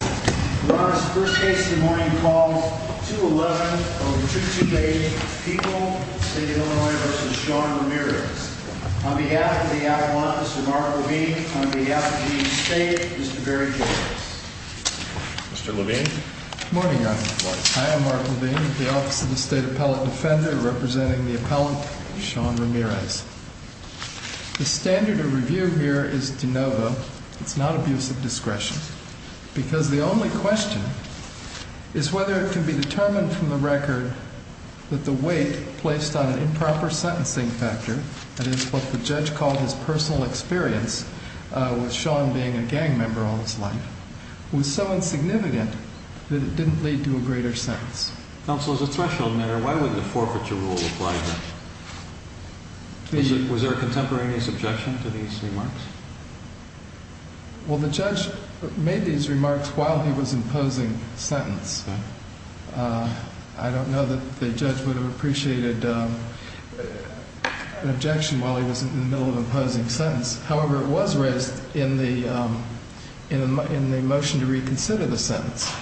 First case of the morning calls 2-11 of 2-2-8, People, Illinois v. Sean Ramirez. On behalf of the Avalon, Mr. Mark Levine. On behalf of the state, Mr. Barry Kittles. Mr. Levine. Good morning, Your Honor. I am Mark Levine, the Office of the State Appellate Defender, representing the appellant, Sean Ramirez. The standard of review here is de novo. It's not abuse of discretion. Because the only question is whether it can be determined from the record that the weight placed on an improper sentencing factor, that is what the judge called his personal experience with Sean being a gang member all his life, was so insignificant that it didn't lead to a greater sentence. Counsel, as a threshold matter, why would the forfeiture rule apply here? Was there a contemporaneous objection to these remarks? Well, the judge made these remarks while he was imposing sentence. I don't know that the judge would have appreciated an objection while he was in the middle of imposing sentence. However, it was raised in the motion to reconsider the sentence.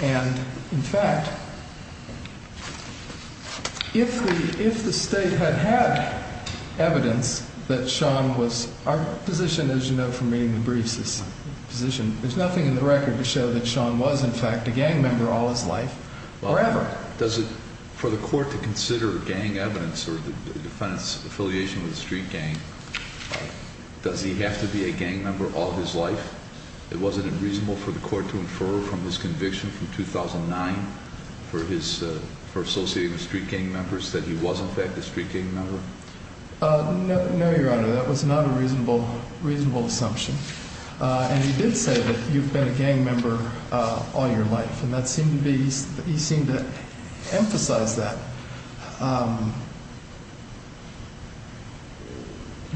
And, in fact, if the state had had evidence that Sean was, our position, as you know from reading the briefs, there's nothing in the record to show that Sean was, in fact, a gang member all his life or ever. Does it, for the court to consider gang evidence or the defendant's affiliation with a street gang, does he have to be a gang member all his life? Was it unreasonable for the court to infer from this conviction from 2009, for associating with street gang members, that he was, in fact, a street gang member? No, Your Honor, that was not a reasonable assumption. And he did say that you've been a gang member all your life. And that seemed to be, he seemed to emphasize that.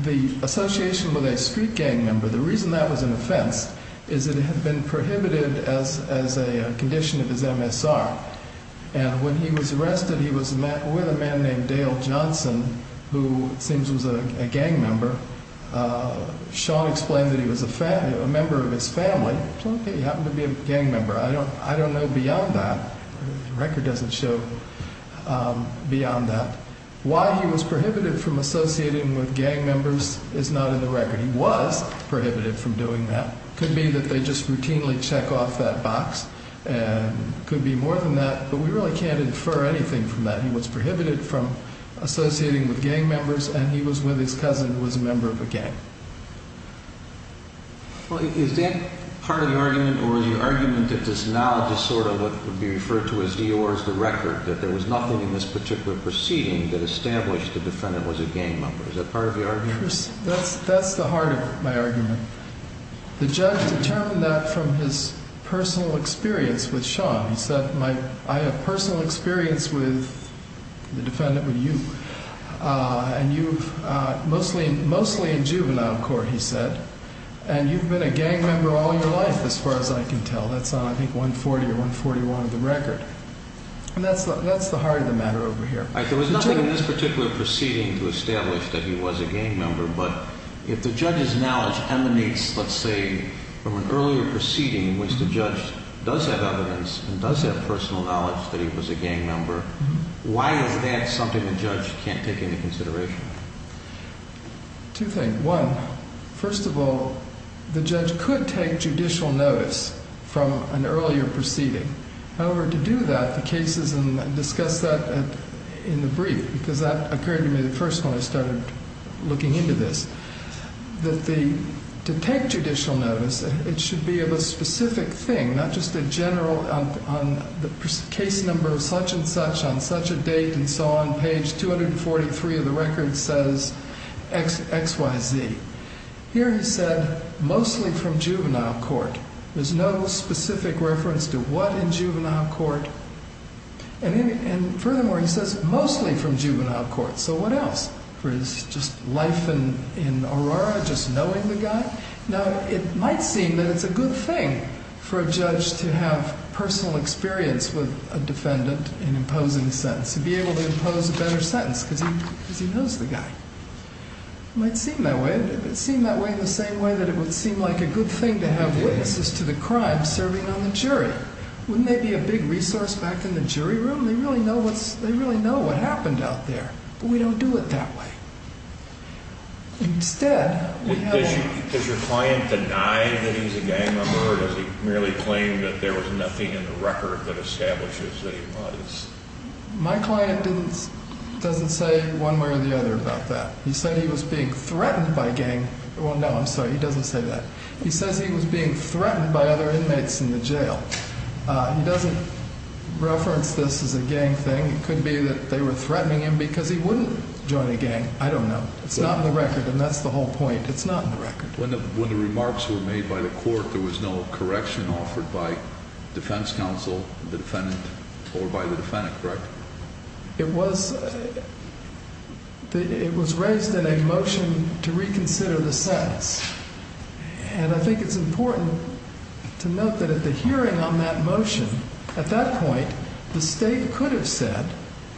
The association with a street gang member, the reason that was an offense, is that it had been prohibited as a condition of his MSR. And when he was arrested, he was met with a man named Dale Johnson, who it seems was a gang member. Sean explained that he was a member of his family. He happened to be a gang member. I don't know beyond that. The record doesn't show beyond that. Why he was prohibited from associating with gang members is not in the record. He was prohibited from doing that. It could be that they just routinely check off that box, and it could be more than that. But we really can't infer anything from that. He was prohibited from associating with gang members, and he was with his cousin who was a member of a gang. Well, is that part of the argument, or is the argument that this knowledge is sort of what would be referred to as the or is the record, that there was nothing in this particular proceeding that established the defendant was a gang member? Is that part of the argument? That's the heart of my argument. The judge determined that from his personal experience with Sean. He said, I have personal experience with the defendant, with you. And you've mostly in juvenile court, he said, and you've been a gang member all your life, as far as I can tell. That's on, I think, 140 or 141 of the record. And that's the heart of the matter over here. There was nothing in this particular proceeding to establish that he was a gang member, but if the judge's knowledge emanates, let's say, from an earlier proceeding in which the judge does have evidence and does have personal knowledge that he was a gang member, why is that something the judge can't take into consideration? Two things. One, first of all, the judge could take judicial notice from an earlier proceeding. However, to do that, the cases, and discuss that in the brief, because that occurred to me the first one I started looking into this, that the, to take judicial notice, it should be of a specific thing, not just a general, on the case number of such and such, on such a date, and so on. Page 243 of the record says X, Y, Z. Here he said, mostly from juvenile court. There's no specific reference to what in juvenile court. And furthermore, he says, mostly from juvenile court. So what else? For his just life in Aurora, just knowing the guy? Now, it might seem that it's a good thing for a judge to have personal experience with a defendant in imposing a sentence, to be able to impose a better sentence, because he knows the guy. It might seem that way. It might seem that way in the same way that it would seem like a good thing to have witnesses to the crime serving on the jury. Wouldn't they be a big resource back in the jury room? They really know what's, they really know what happened out there. But we don't do it that way. Does your client deny that he's a gang member, or does he merely claim that there was nothing in the record that establishes that he was? My client doesn't say one way or the other about that. He said he was being threatened by a gang. Well, no, I'm sorry, he doesn't say that. He says he was being threatened by other inmates in the jail. He doesn't reference this as a gang thing. It could be that they were threatening him because he wouldn't join a gang. I don't know. It's not in the record, and that's the whole point. It's not in the record. When the remarks were made by the court, there was no correction offered by defense counsel, the defendant, or by the defendant, correct? It was raised in a motion to reconsider the sentence. And I think it's important to note that at the hearing on that motion, at that point, the state could have said,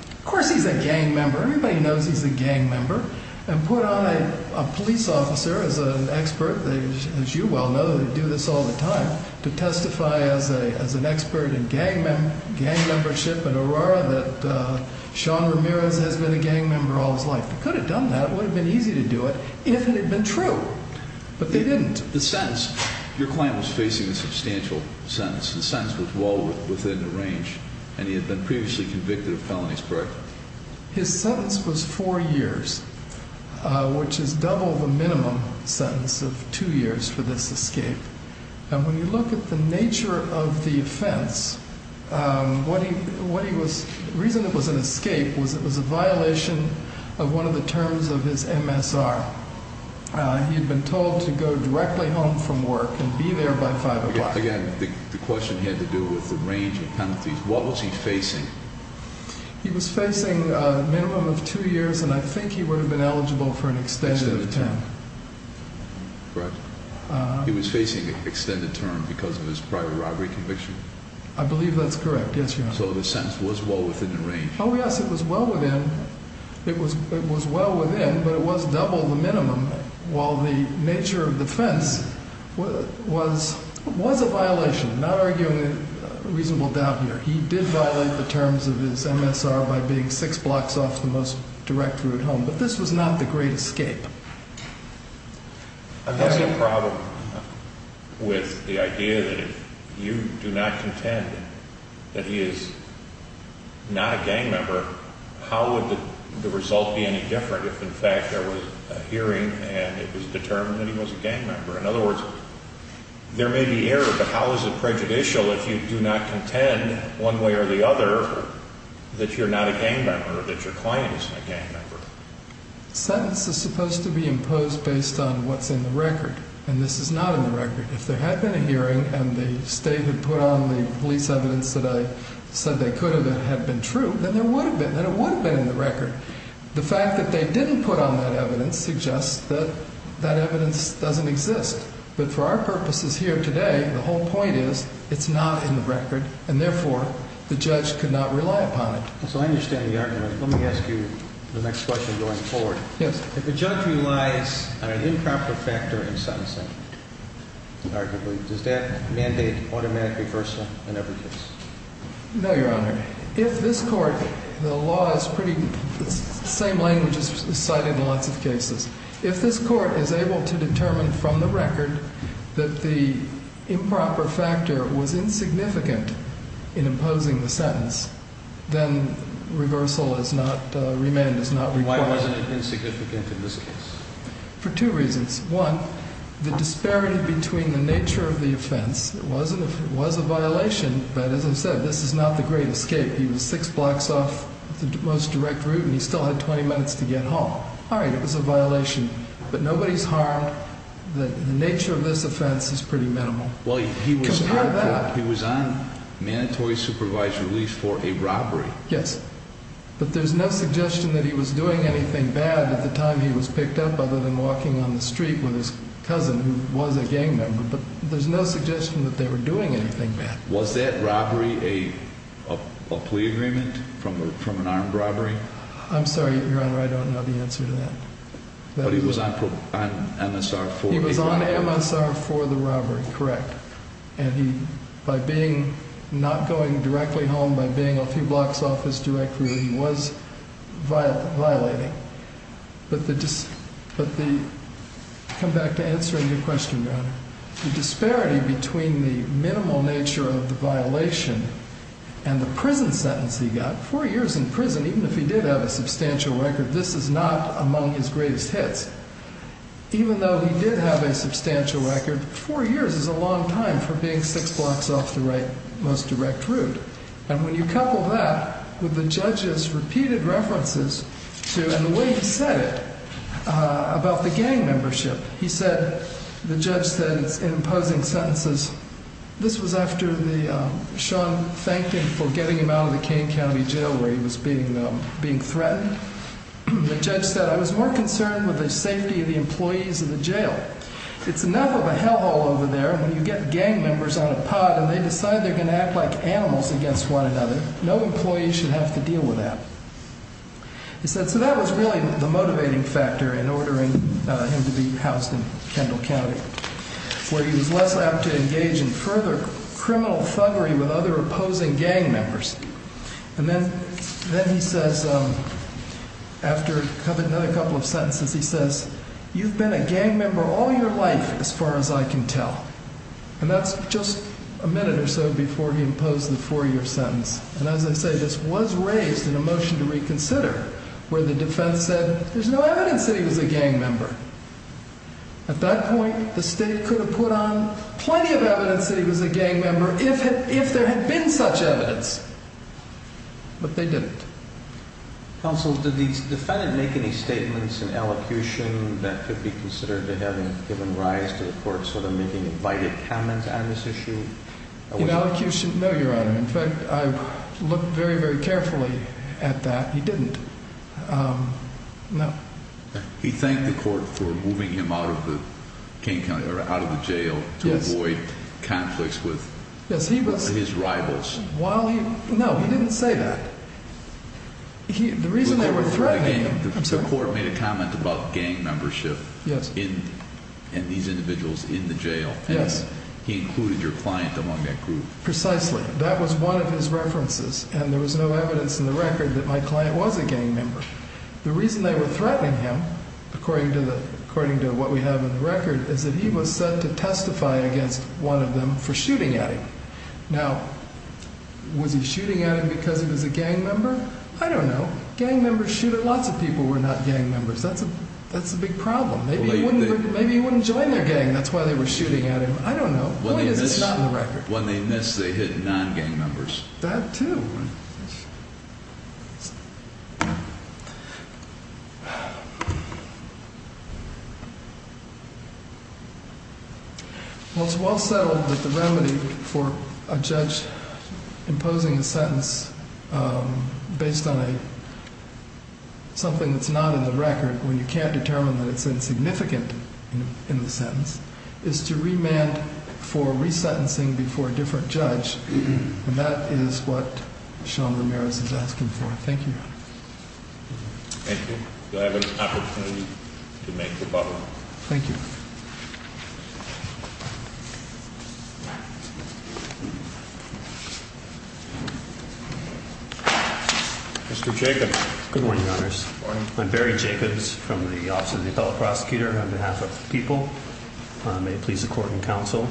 Of course he's a gang member. Everybody knows he's a gang member. And put on a police officer as an expert, as you well know, they do this all the time, to testify as an expert in gang membership at Aurora that Sean Ramirez has been a gang member all his life. They could have done that. It would have been easy to do it if it had been true. But they didn't. The sentence, your client was facing a substantial sentence. The sentence was well within the range, and he had been previously convicted of felonies, correct? His sentence was four years, which is double the minimum sentence of two years for this escape. And when you look at the nature of the offense, the reason it was an escape was it was a violation of one of the terms of his MSR. He had been told to go directly home from work and be there by 5 o'clock. Again, the question had to do with the range of penalties. What was he facing? He was facing a minimum of two years, and I think he would have been eligible for an extended term. Correct. He was facing an extended term because of his prior robbery conviction? I believe that's correct. Yes, Your Honor. So the sentence was well within the range. Oh, yes, it was well within. It was well within, but it was double the minimum. While the nature of the offense was a violation, not arguing a reasonable doubt here, he did violate the terms of his MSR by being six blocks off the most direct route home. But this was not the great escape. There's a problem with the idea that if you do not contend that he is not a gang member, how would the result be any different if, in fact, there was a hearing and it was determined that he was a gang member? In other words, there may be error, but how is it prejudicial if you do not contend, one way or the other, that you're not a gang member or that your client isn't a gang member? A sentence is supposed to be imposed based on what's in the record, and this is not in the record. If there had been a hearing and the State had put on the police evidence that I said they could have been true, then it would have been in the record. The fact that they didn't put on that evidence suggests that that evidence doesn't exist. But for our purposes here today, the whole point is it's not in the record, and therefore the judge could not rely upon it. So I understand the argument. Let me ask you the next question going forward. Yes. If the judge relies on an improper factor in sentencing, arguably, does that mandate automatic reversal in every case? No, Your Honor. If this Court, the law is pretty, the same language is cited in lots of cases. If this Court is able to determine from the record that the improper factor was insignificant in imposing the sentence, then reversal is not, remand is not required. Why wasn't it insignificant in this case? For two reasons. One, the disparity between the nature of the offense, it was a violation, but as I said, this is not the great escape. He was six blocks off the most direct route, and he still had 20 minutes to get home. All right, it was a violation, but nobody's harmed. The nature of this offense is pretty minimal. Well, he was on mandatory supervised release for a robbery. Yes, but there's no suggestion that he was doing anything bad at the time he was picked up other than walking on the street with his cousin who was a gang member. But there's no suggestion that they were doing anything bad. Was that robbery a plea agreement from an armed robbery? I'm sorry, Your Honor, I don't know the answer to that. But he was on MSR for the robbery. He was on MSR for the robbery, correct. And he, by being, not going directly home, by being a few blocks off his direct route, he was violating. The disparity between the minimal nature of the violation and the prison sentence he got, four years in prison, even if he did have a substantial record, this is not among his greatest hits. Even though he did have a substantial record, four years is a long time for being six blocks off the most direct route. And when you couple that with the judge's repeated references to, and the way he said it, about the gang membership, he said, the judge said in imposing sentences, this was after the, Sean thanked him for getting him out of the Kane County Jail where he was being threatened. The judge said, I was more concerned with the safety of the employees of the jail. It's enough of a hell hole over there when you get gang members on a pod and they decide they're going to act like animals against one another. No employee should have to deal with that. He said, so that was really the motivating factor in ordering him to be housed in Kendall County, where he was less apt to engage in further criminal thuggery with other opposing gang members. And then, then he says, after another couple of sentences, he says, you've been a gang member all your life, as far as I can tell. And that's just a minute or so before he imposed the four-year sentence. And as I say, this was raised in a motion to reconsider where the defense said, there's no evidence that he was a gang member. At that point, the state could have put on plenty of evidence that he was a gang member if there had been such evidence. But they didn't. Counsel, did the defendant make any statements in elocution that could be considered to having given rise to the court sort of making invited comments on this issue? In elocution, no, Your Honor. In fact, I looked very, very carefully at that. He didn't. No. He thanked the court for moving him out of the jail to avoid conflicts with his rivals. No, he didn't say that. The reason they were threatening him. The court made a comment about gang membership and these individuals in the jail. Yes. He included your client among that group. Precisely. That was one of his references. And there was no evidence in the record that my client was a gang member. The reason they were threatening him, according to what we have in the record, is that he was set to testify against one of them for shooting at him. Now, was he shooting at him because he was a gang member? I don't know. Gang members shoot at lots of people who are not gang members. That's a big problem. Maybe he wouldn't join their gang. That's why they were shooting at him. I don't know. The point is it's not in the record. When they missed, they hit non-gang members. That, too. Well, it's well settled that the remedy for a judge imposing a sentence based on something that's not in the record, when you can't determine that it's insignificant in the sentence, is to remand for resentencing before a different judge. And that is what Sean Ramirez is asking for. Thank you, Your Honor. Thank you. You'll have an opportunity to make the butler. Thank you. Mr. Jacobs. Good morning, Your Honors. Good morning. I'm Barry Jacobs from the Office of the Appellate Prosecutor. On behalf of the people, may it please the Court and Counsel,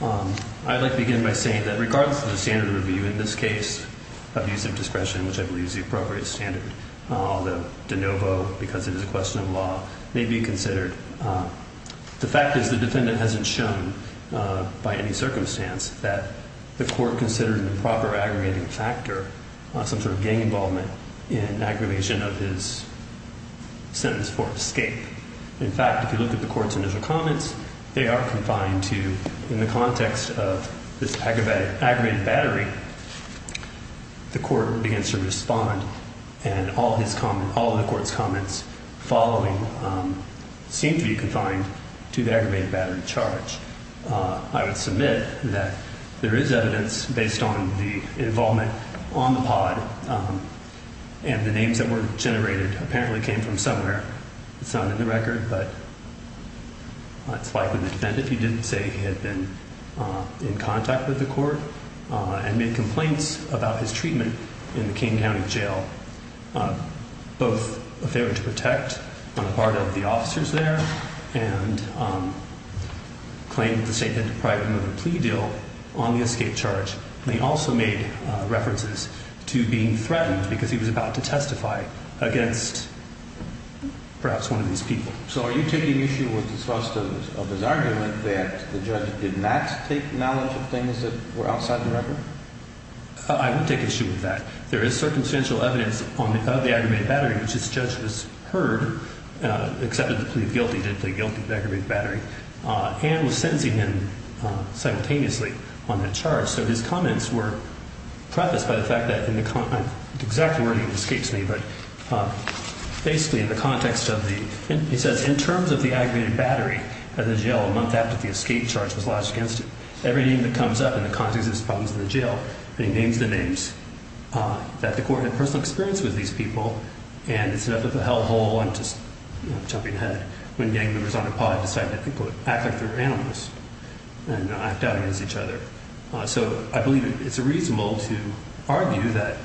I'd like to begin by saying that regardless of the standard of review in this case, abuse of discretion, which I believe is the appropriate standard, although de novo, because it is a question of law, may be considered. The fact is the defendant hasn't shown, by any circumstance, that the court considered an improper aggregating factor, some sort of gang involvement in aggravation of his sentence for escape. In fact, if you look at the court's initial comments, they are confined to, in the context of this aggravated battery, the court begins to respond, and all the court's comments following seem to be confined to the aggravated battery charge. I would submit that there is evidence based on the involvement on the pod and the names that were generated apparently came from somewhere. It's not in the record, but it's likely the defendant, if he didn't say he had been in contact with the court and made complaints about his treatment in the King County Jail, both a favor to protect on the part of the officers there and claimed that the state had deprived him of a plea deal on the escape charge. He also made references to being threatened because he was about to testify against perhaps one of these people. So are you taking issue with the source of his argument that the judge did not take knowledge of things that were outside the record? I would take issue with that. There is circumstantial evidence of the aggravated battery, which this judge was heard, accepted to plead guilty, did plead guilty to aggravated battery, and was sentencing him simultaneously on that charge. So his comments were prefaced by the fact that in the context, exactly where he escapes me, but basically in the context of the, he says in terms of the aggravated battery at the jail a month after the escape charge was lodged against him, everything that comes up in the context of his problems in the jail, and he names the names, that the court had personal experience with these people, and it's enough of a hell hole, I'm just jumping ahead, when gang members on a pod decide to, quote, act like they're animals and act out against each other. So I believe it's reasonable to argue that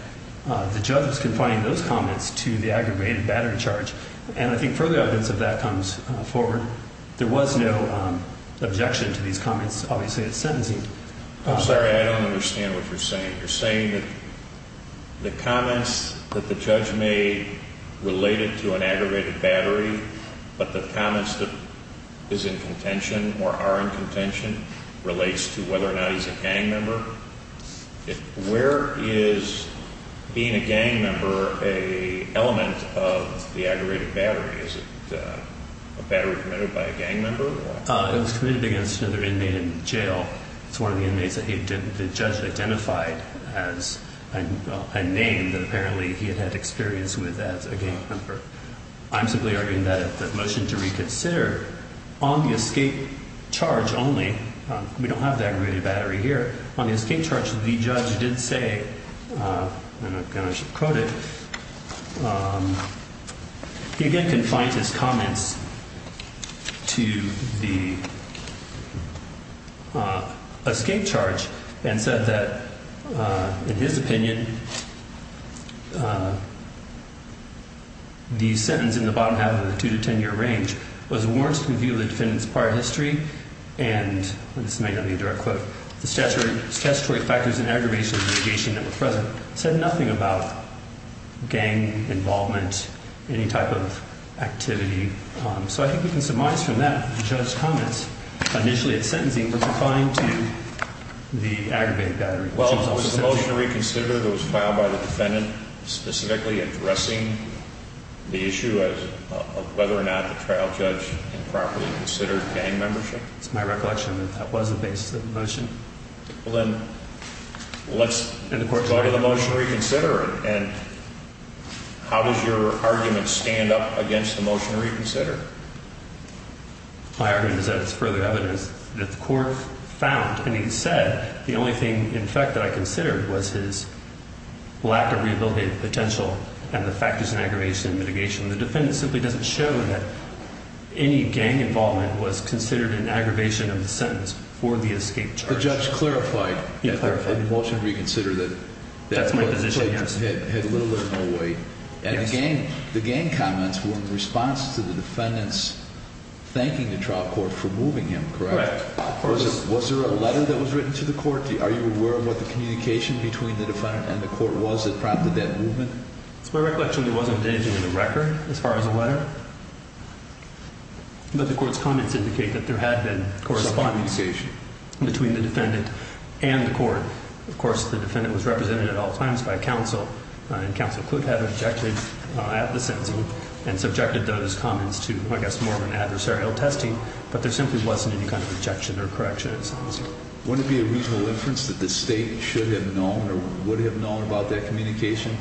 the judge was confining those comments to the aggravated battery charge, and I think further evidence of that comes forward. There was no objection to these comments, obviously, at sentencing. I'm sorry, I don't understand what you're saying. You're saying that the comments that the judge made related to an aggravated battery, but the comments that is in contention or are in contention relates to whether or not he's a gang member? Where is being a gang member an element of the aggravated battery? Is it a battery committed by a gang member? It was committed against another inmate in jail. It's one of the inmates that the judge identified as a name that apparently he had had experience with as a gang member. I'm simply arguing that the motion to reconsider on the escape charge only, we don't have the aggravated battery here, on the escape charge, the judge did say, and I'm going to quote it, he again confined his comments to the escape charge and said that, in his opinion, the sentence in the bottom half of the 2-10 year range was warrants to review the defendant's prior history, and this may not be a direct quote, the statutory factors and aggravation of litigation that were present said nothing about gang involvement, any type of activity. So I think we can surmise from that that the judge's comments initially at sentencing were confined to the aggravated battery. Well, was the motion to reconsider that was filed by the defendant specifically addressing the issue of whether or not the trial judge improperly considered gang membership? It's my recollection that that was the basis of the motion. Well, then, let's go to the motion to reconsider, and how does your argument stand up against the motion to reconsider? My argument is that it's further evidence that the court found, and he said, the only thing, in fact, that I considered was his lack of rehabilitative potential and the factors in aggravation and litigation. The defendant simply doesn't show that any gang involvement was considered an aggravation of the sentence for the escape charge. But the judge clarified in the motion to reconsider that that's what the judge had little or no weight. And the gang comments were in response to the defendant's thanking the trial court for moving him, correct? Correct. Was there a letter that was written to the court? Are you aware of what the communication between the defendant and the court was that prompted that movement? It's my recollection there wasn't anything in the record as far as a letter. But the court's comments indicate that there had been correspondence between the defendant and the court. Of course, the defendant was represented at all times by counsel, and counsel could have objected at the sentencing and subjected those comments to, I guess, more of an adversarial testing. But there simply wasn't any kind of objection or correction, it sounds like. Wouldn't it be a reasonable inference that the state should have known or would have known about that communication,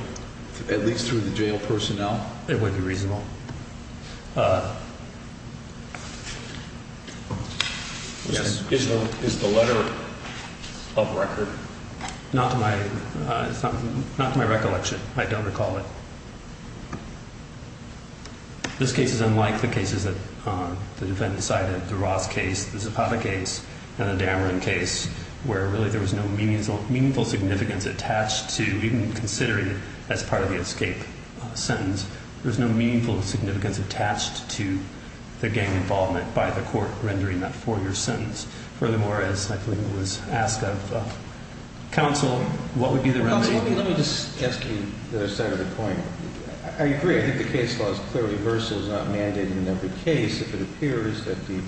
at least through the jail personnel? It would be reasonable. Is the letter of record? Not to my recollection. I don't recall it. This case is unlike the cases that the defendant cited. The Ross case, the Zapata case, and the Dameron case, where really there was no meaningful significance attached to even considering it as part of the escape sentence. There's no meaningful significance attached to the gang involvement by the court rendering that four-year sentence. Furthermore, as I believe it was asked of counsel, what would be the remedy? Let me just ask you the second point. I agree. I think the case law is clearly versus not mandating every case if it appears that the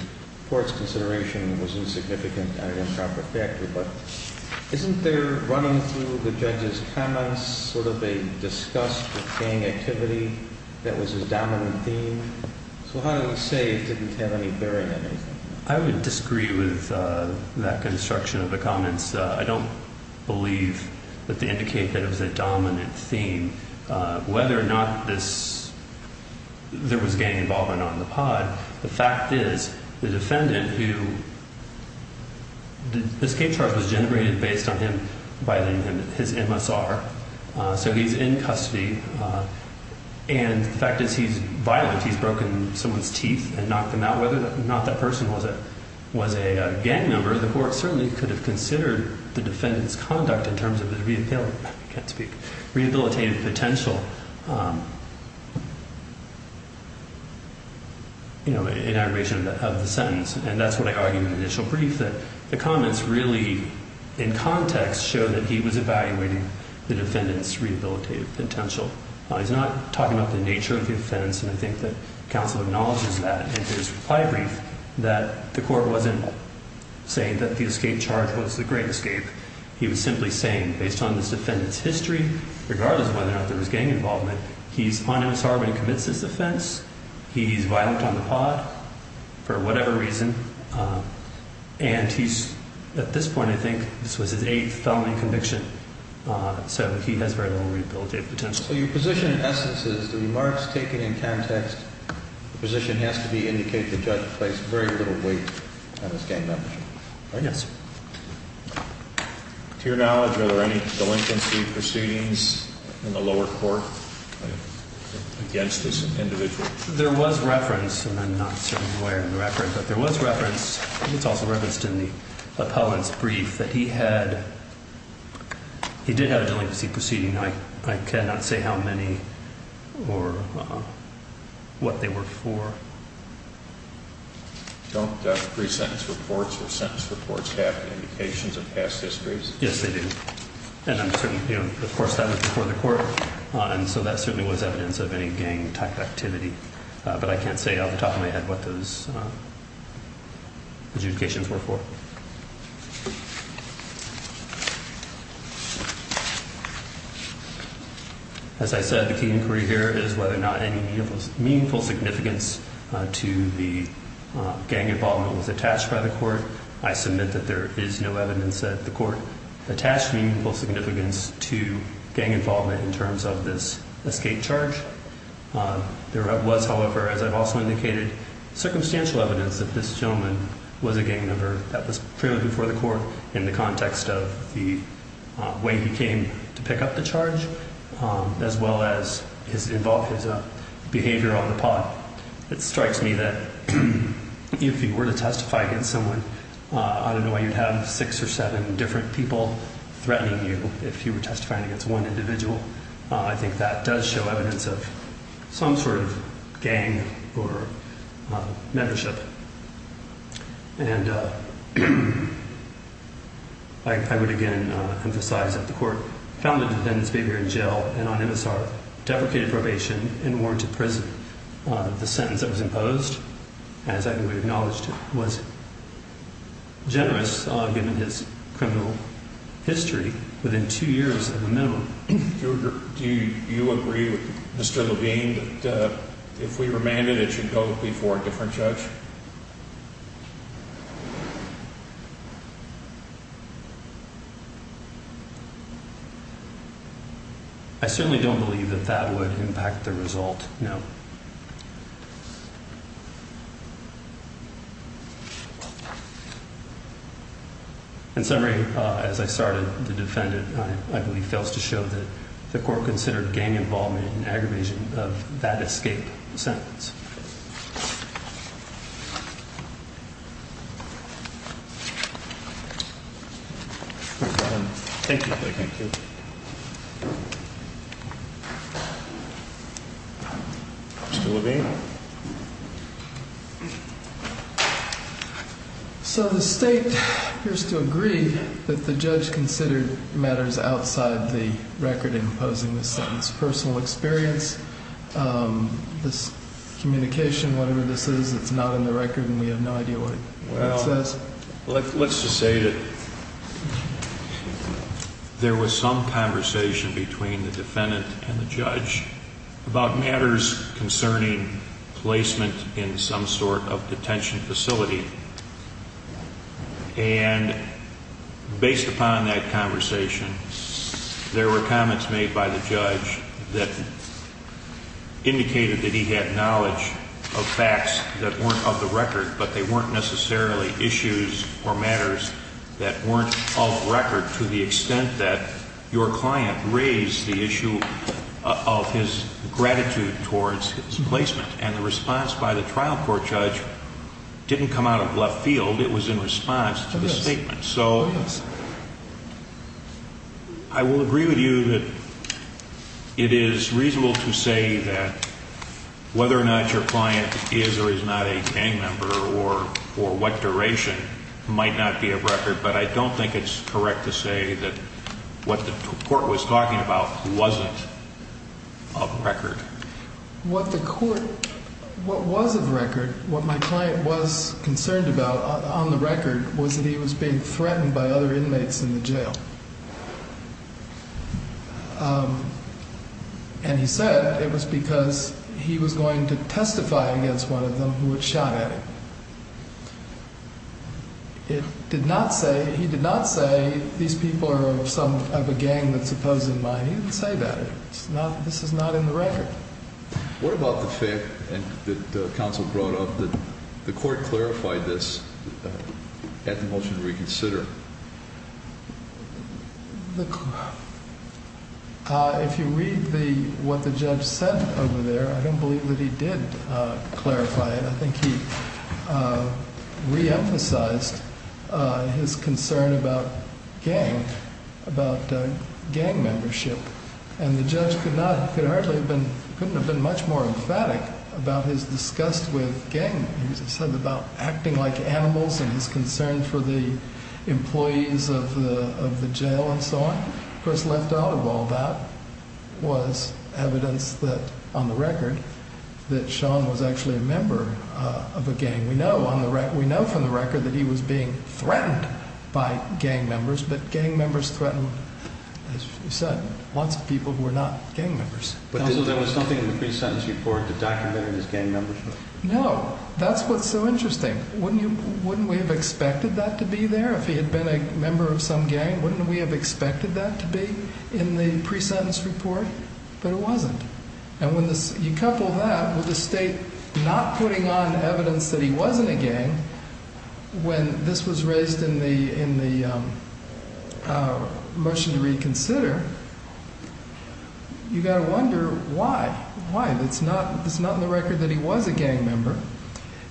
court's consideration was insignificant and an improper factor. But isn't there, running through the judge's comments, sort of a disgust with gang activity that was his dominant theme? So how do we say it didn't have any bearing on anything? I would disagree with that construction of the comments. I don't believe that they indicate that it was a dominant theme. Whether or not there was gang involvement on the pod, the fact is the defendant who the escape charge was generated based on him violating his MSR. So he's in custody. And the fact is he's violent. He's broken someone's teeth and knocked them out. Whether or not that person was a gang member, the court certainly could have considered the defendant's conduct in terms of his rehabilitative potential in aggravation of the sentence. And that's what I argued in the initial brief, that the comments really, in context, show that he was evaluating the defendant's rehabilitative potential. He's not talking about the nature of the offense. And I think that counsel acknowledges that in his reply brief, that the court wasn't saying that the escape charge was the great escape. He was simply saying, based on this defendant's history, regardless of whether or not there was gang involvement, he's on MSR and commits this offense. He's violent on the pod for whatever reason. And he's, at this point, I think this was his eighth felony conviction. So he has very little rehabilitative potential. So your position, in essence, is the remarks taken in context, the position has to be, indicate the judge placed very little weight on his gang membership. Yes. To your knowledge, are there any delinquency proceedings in the lower court against this individual? There was reference, and I'm not certainly aware of the reference, but there was reference. It's also referenced in the appellant's brief that he had, he did have a delinquency proceeding. I cannot say how many or what they were for. Don't pre-sentence reports or sentence reports have indications of past histories? Yes, they do. And, of course, that was before the court, and so that certainly was evidence of any gang-type activity. But I can't say off the top of my head what those adjudications were for. As I said, the key inquiry here is whether or not any meaningful significance to the gang involvement was attached by the court. I submit that there is no evidence that the court attached meaningful significance to gang involvement in terms of this escape charge. There was, however, as I've also indicated, circumstantial evidence that this gentleman was a gang member. That was pretty much before the court in the context of the way he came to pick up the charge, as well as his behavior on the pot. It strikes me that if you were to testify against someone, I don't know why you'd have six or seven different people threatening you if you were testifying against one individual. I think that does show evidence of some sort of gang or membership. And I would again emphasize that the court found the defendant's behavior in jail and on MSR, deprecated probation, and warranted prison. The sentence that was imposed, as I've already acknowledged, was generous, given his criminal history, within two years at the minimum. Do you agree with Mr. Levine that if we remanded, it should go before a different judge? I certainly don't believe that that would impact the result, no. In summary, as I started, the defendant, I believe, fails to show that the court considered gang involvement an aggravation of that escape sentence. Thank you. Thank you. Mr. Levine? So the state appears to agree that the judge considered matters outside the record imposing the sentence, personal experience, this communication, whatever this is, it's not in the record and we have no idea what it says. Well, let's just say that there was some conversation between the defendant and the judge about matters concerning placement in some sort of detention facility. And based upon that conversation, there were comments made by the judge that indicated that he had knowledge of facts that weren't of the record, but they weren't necessarily issues or matters that weren't of record to the extent that your client raised the issue of his gratitude towards his placement. And the response by the trial court judge didn't come out of left field. It was in response to the statement. So I will agree with you that it is reasonable to say that whether or not your client is or is not a gang member or what duration might not be of record, but I don't think it's correct to say that what the court was talking about wasn't of record. What the court, what was of record, what my client was concerned about on the record was that he was being threatened by other inmates in the jail. And he said it was because he was going to testify against one of them who had shot at him. It did not say, he did not say these people are some of a gang that's opposing mine. He didn't say that. It's not, this is not in the record. What about the fact that counsel brought up that the court clarified this at the motion to reconsider? If you read the, what the judge said over there, I don't believe that he did clarify it. I think he reemphasized his concern about gang, about gang membership. And the judge could not, could hardly have been, couldn't have been much more emphatic about his disgust with gang. He said about acting like animals and his concern for the employees of the jail and so on. Of course, left out of all that was evidence that on the record that Sean was actually a member of a gang. We know on the record, we know from the record that he was being threatened by gang members. But gang members threatened, as you said, lots of people who were not gang members. No, that's what's so interesting. Wouldn't you, wouldn't we have expected that to be there if he had been a member of some gang? Wouldn't we have expected that to be in the pre-sentence report? But it wasn't. And when you couple that with the state not putting on evidence that he wasn't a gang, when this was raised in the, in the motion to reconsider, you got to wonder why. Why? That's not, that's not in the record that he was a gang member.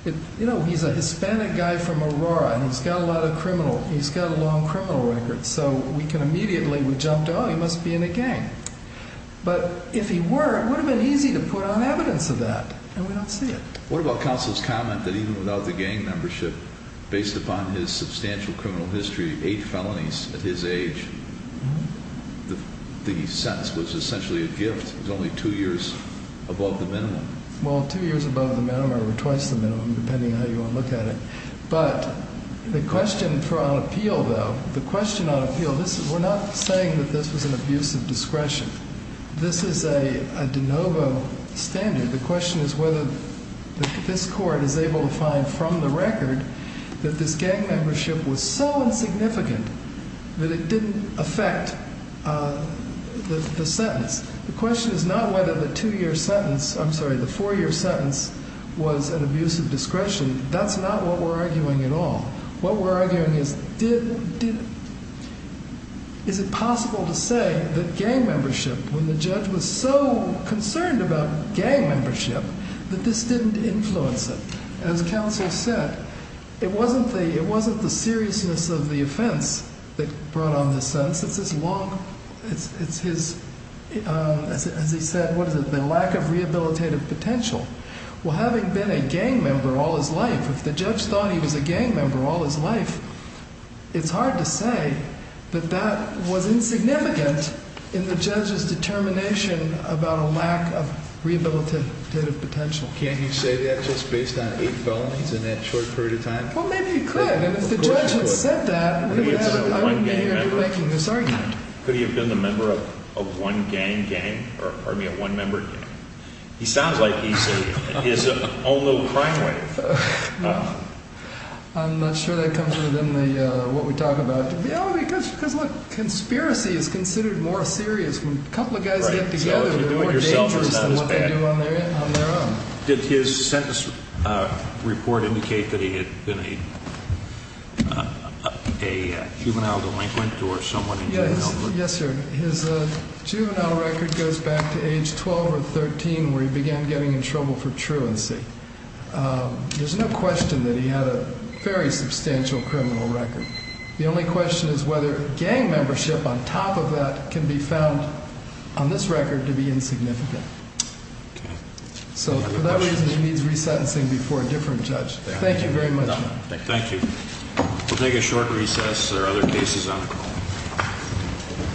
You know, he's a Hispanic guy from Aurora and he's got a lot of criminal, he's got a long criminal record. So we can immediately, we jump to, oh, he must be in a gang. But if he were, it would have been easy to put on evidence of that. And we don't see it. What about counsel's comment that even without the gang membership, based upon his substantial criminal history, eight felonies at his age, the sentence was essentially a gift. It was only two years above the minimum. Well, two years above the minimum or twice the minimum, depending on how you want to look at it. But the question for our appeal, though, the question on appeal, we're not saying that this was an abuse of discretion. This is a de novo standard. The question is whether this court is able to find from the record that this gang membership was so insignificant that it didn't affect the sentence. The question is not whether the two-year sentence, I'm sorry, the four-year sentence was an abuse of discretion. That's not what we're arguing at all. What we're arguing is did, is it possible to say that gang membership, when the judge was so concerned about gang membership, that this didn't influence it? As counsel said, it wasn't the seriousness of the offense that brought on this sentence. It's his, as he said, what is it, the lack of rehabilitative potential. Well, having been a gang member all his life, if the judge thought he was a gang member all his life, it's hard to say that that was insignificant in the judge's determination about a lack of rehabilitative potential. Can't he say that just based on eight felonies in that short period of time? Well, maybe he could. And if the judge had said that, I wouldn't be here making this argument. Could he have been a member of one gang gang, or pardon me, a one-member gang? He sounds like he's in his own little crime wave. I'm not sure that comes within what we talk about. Because, look, conspiracy is considered more serious. When a couple of guys get together, they're more dangerous than what they do on their own. Did his sentence report indicate that he had been a juvenile delinquent or someone in juvenile delinquency? Yes, sir. His juvenile record goes back to age 12 or 13, where he began getting in trouble for truancy. There's no question that he had a very substantial criminal record. The only question is whether gang membership on top of that can be found on this record to be insignificant. So for that reason, he needs resentencing before a different judge. Thank you very much. Thank you. We'll take a short recess. There are other cases on the call.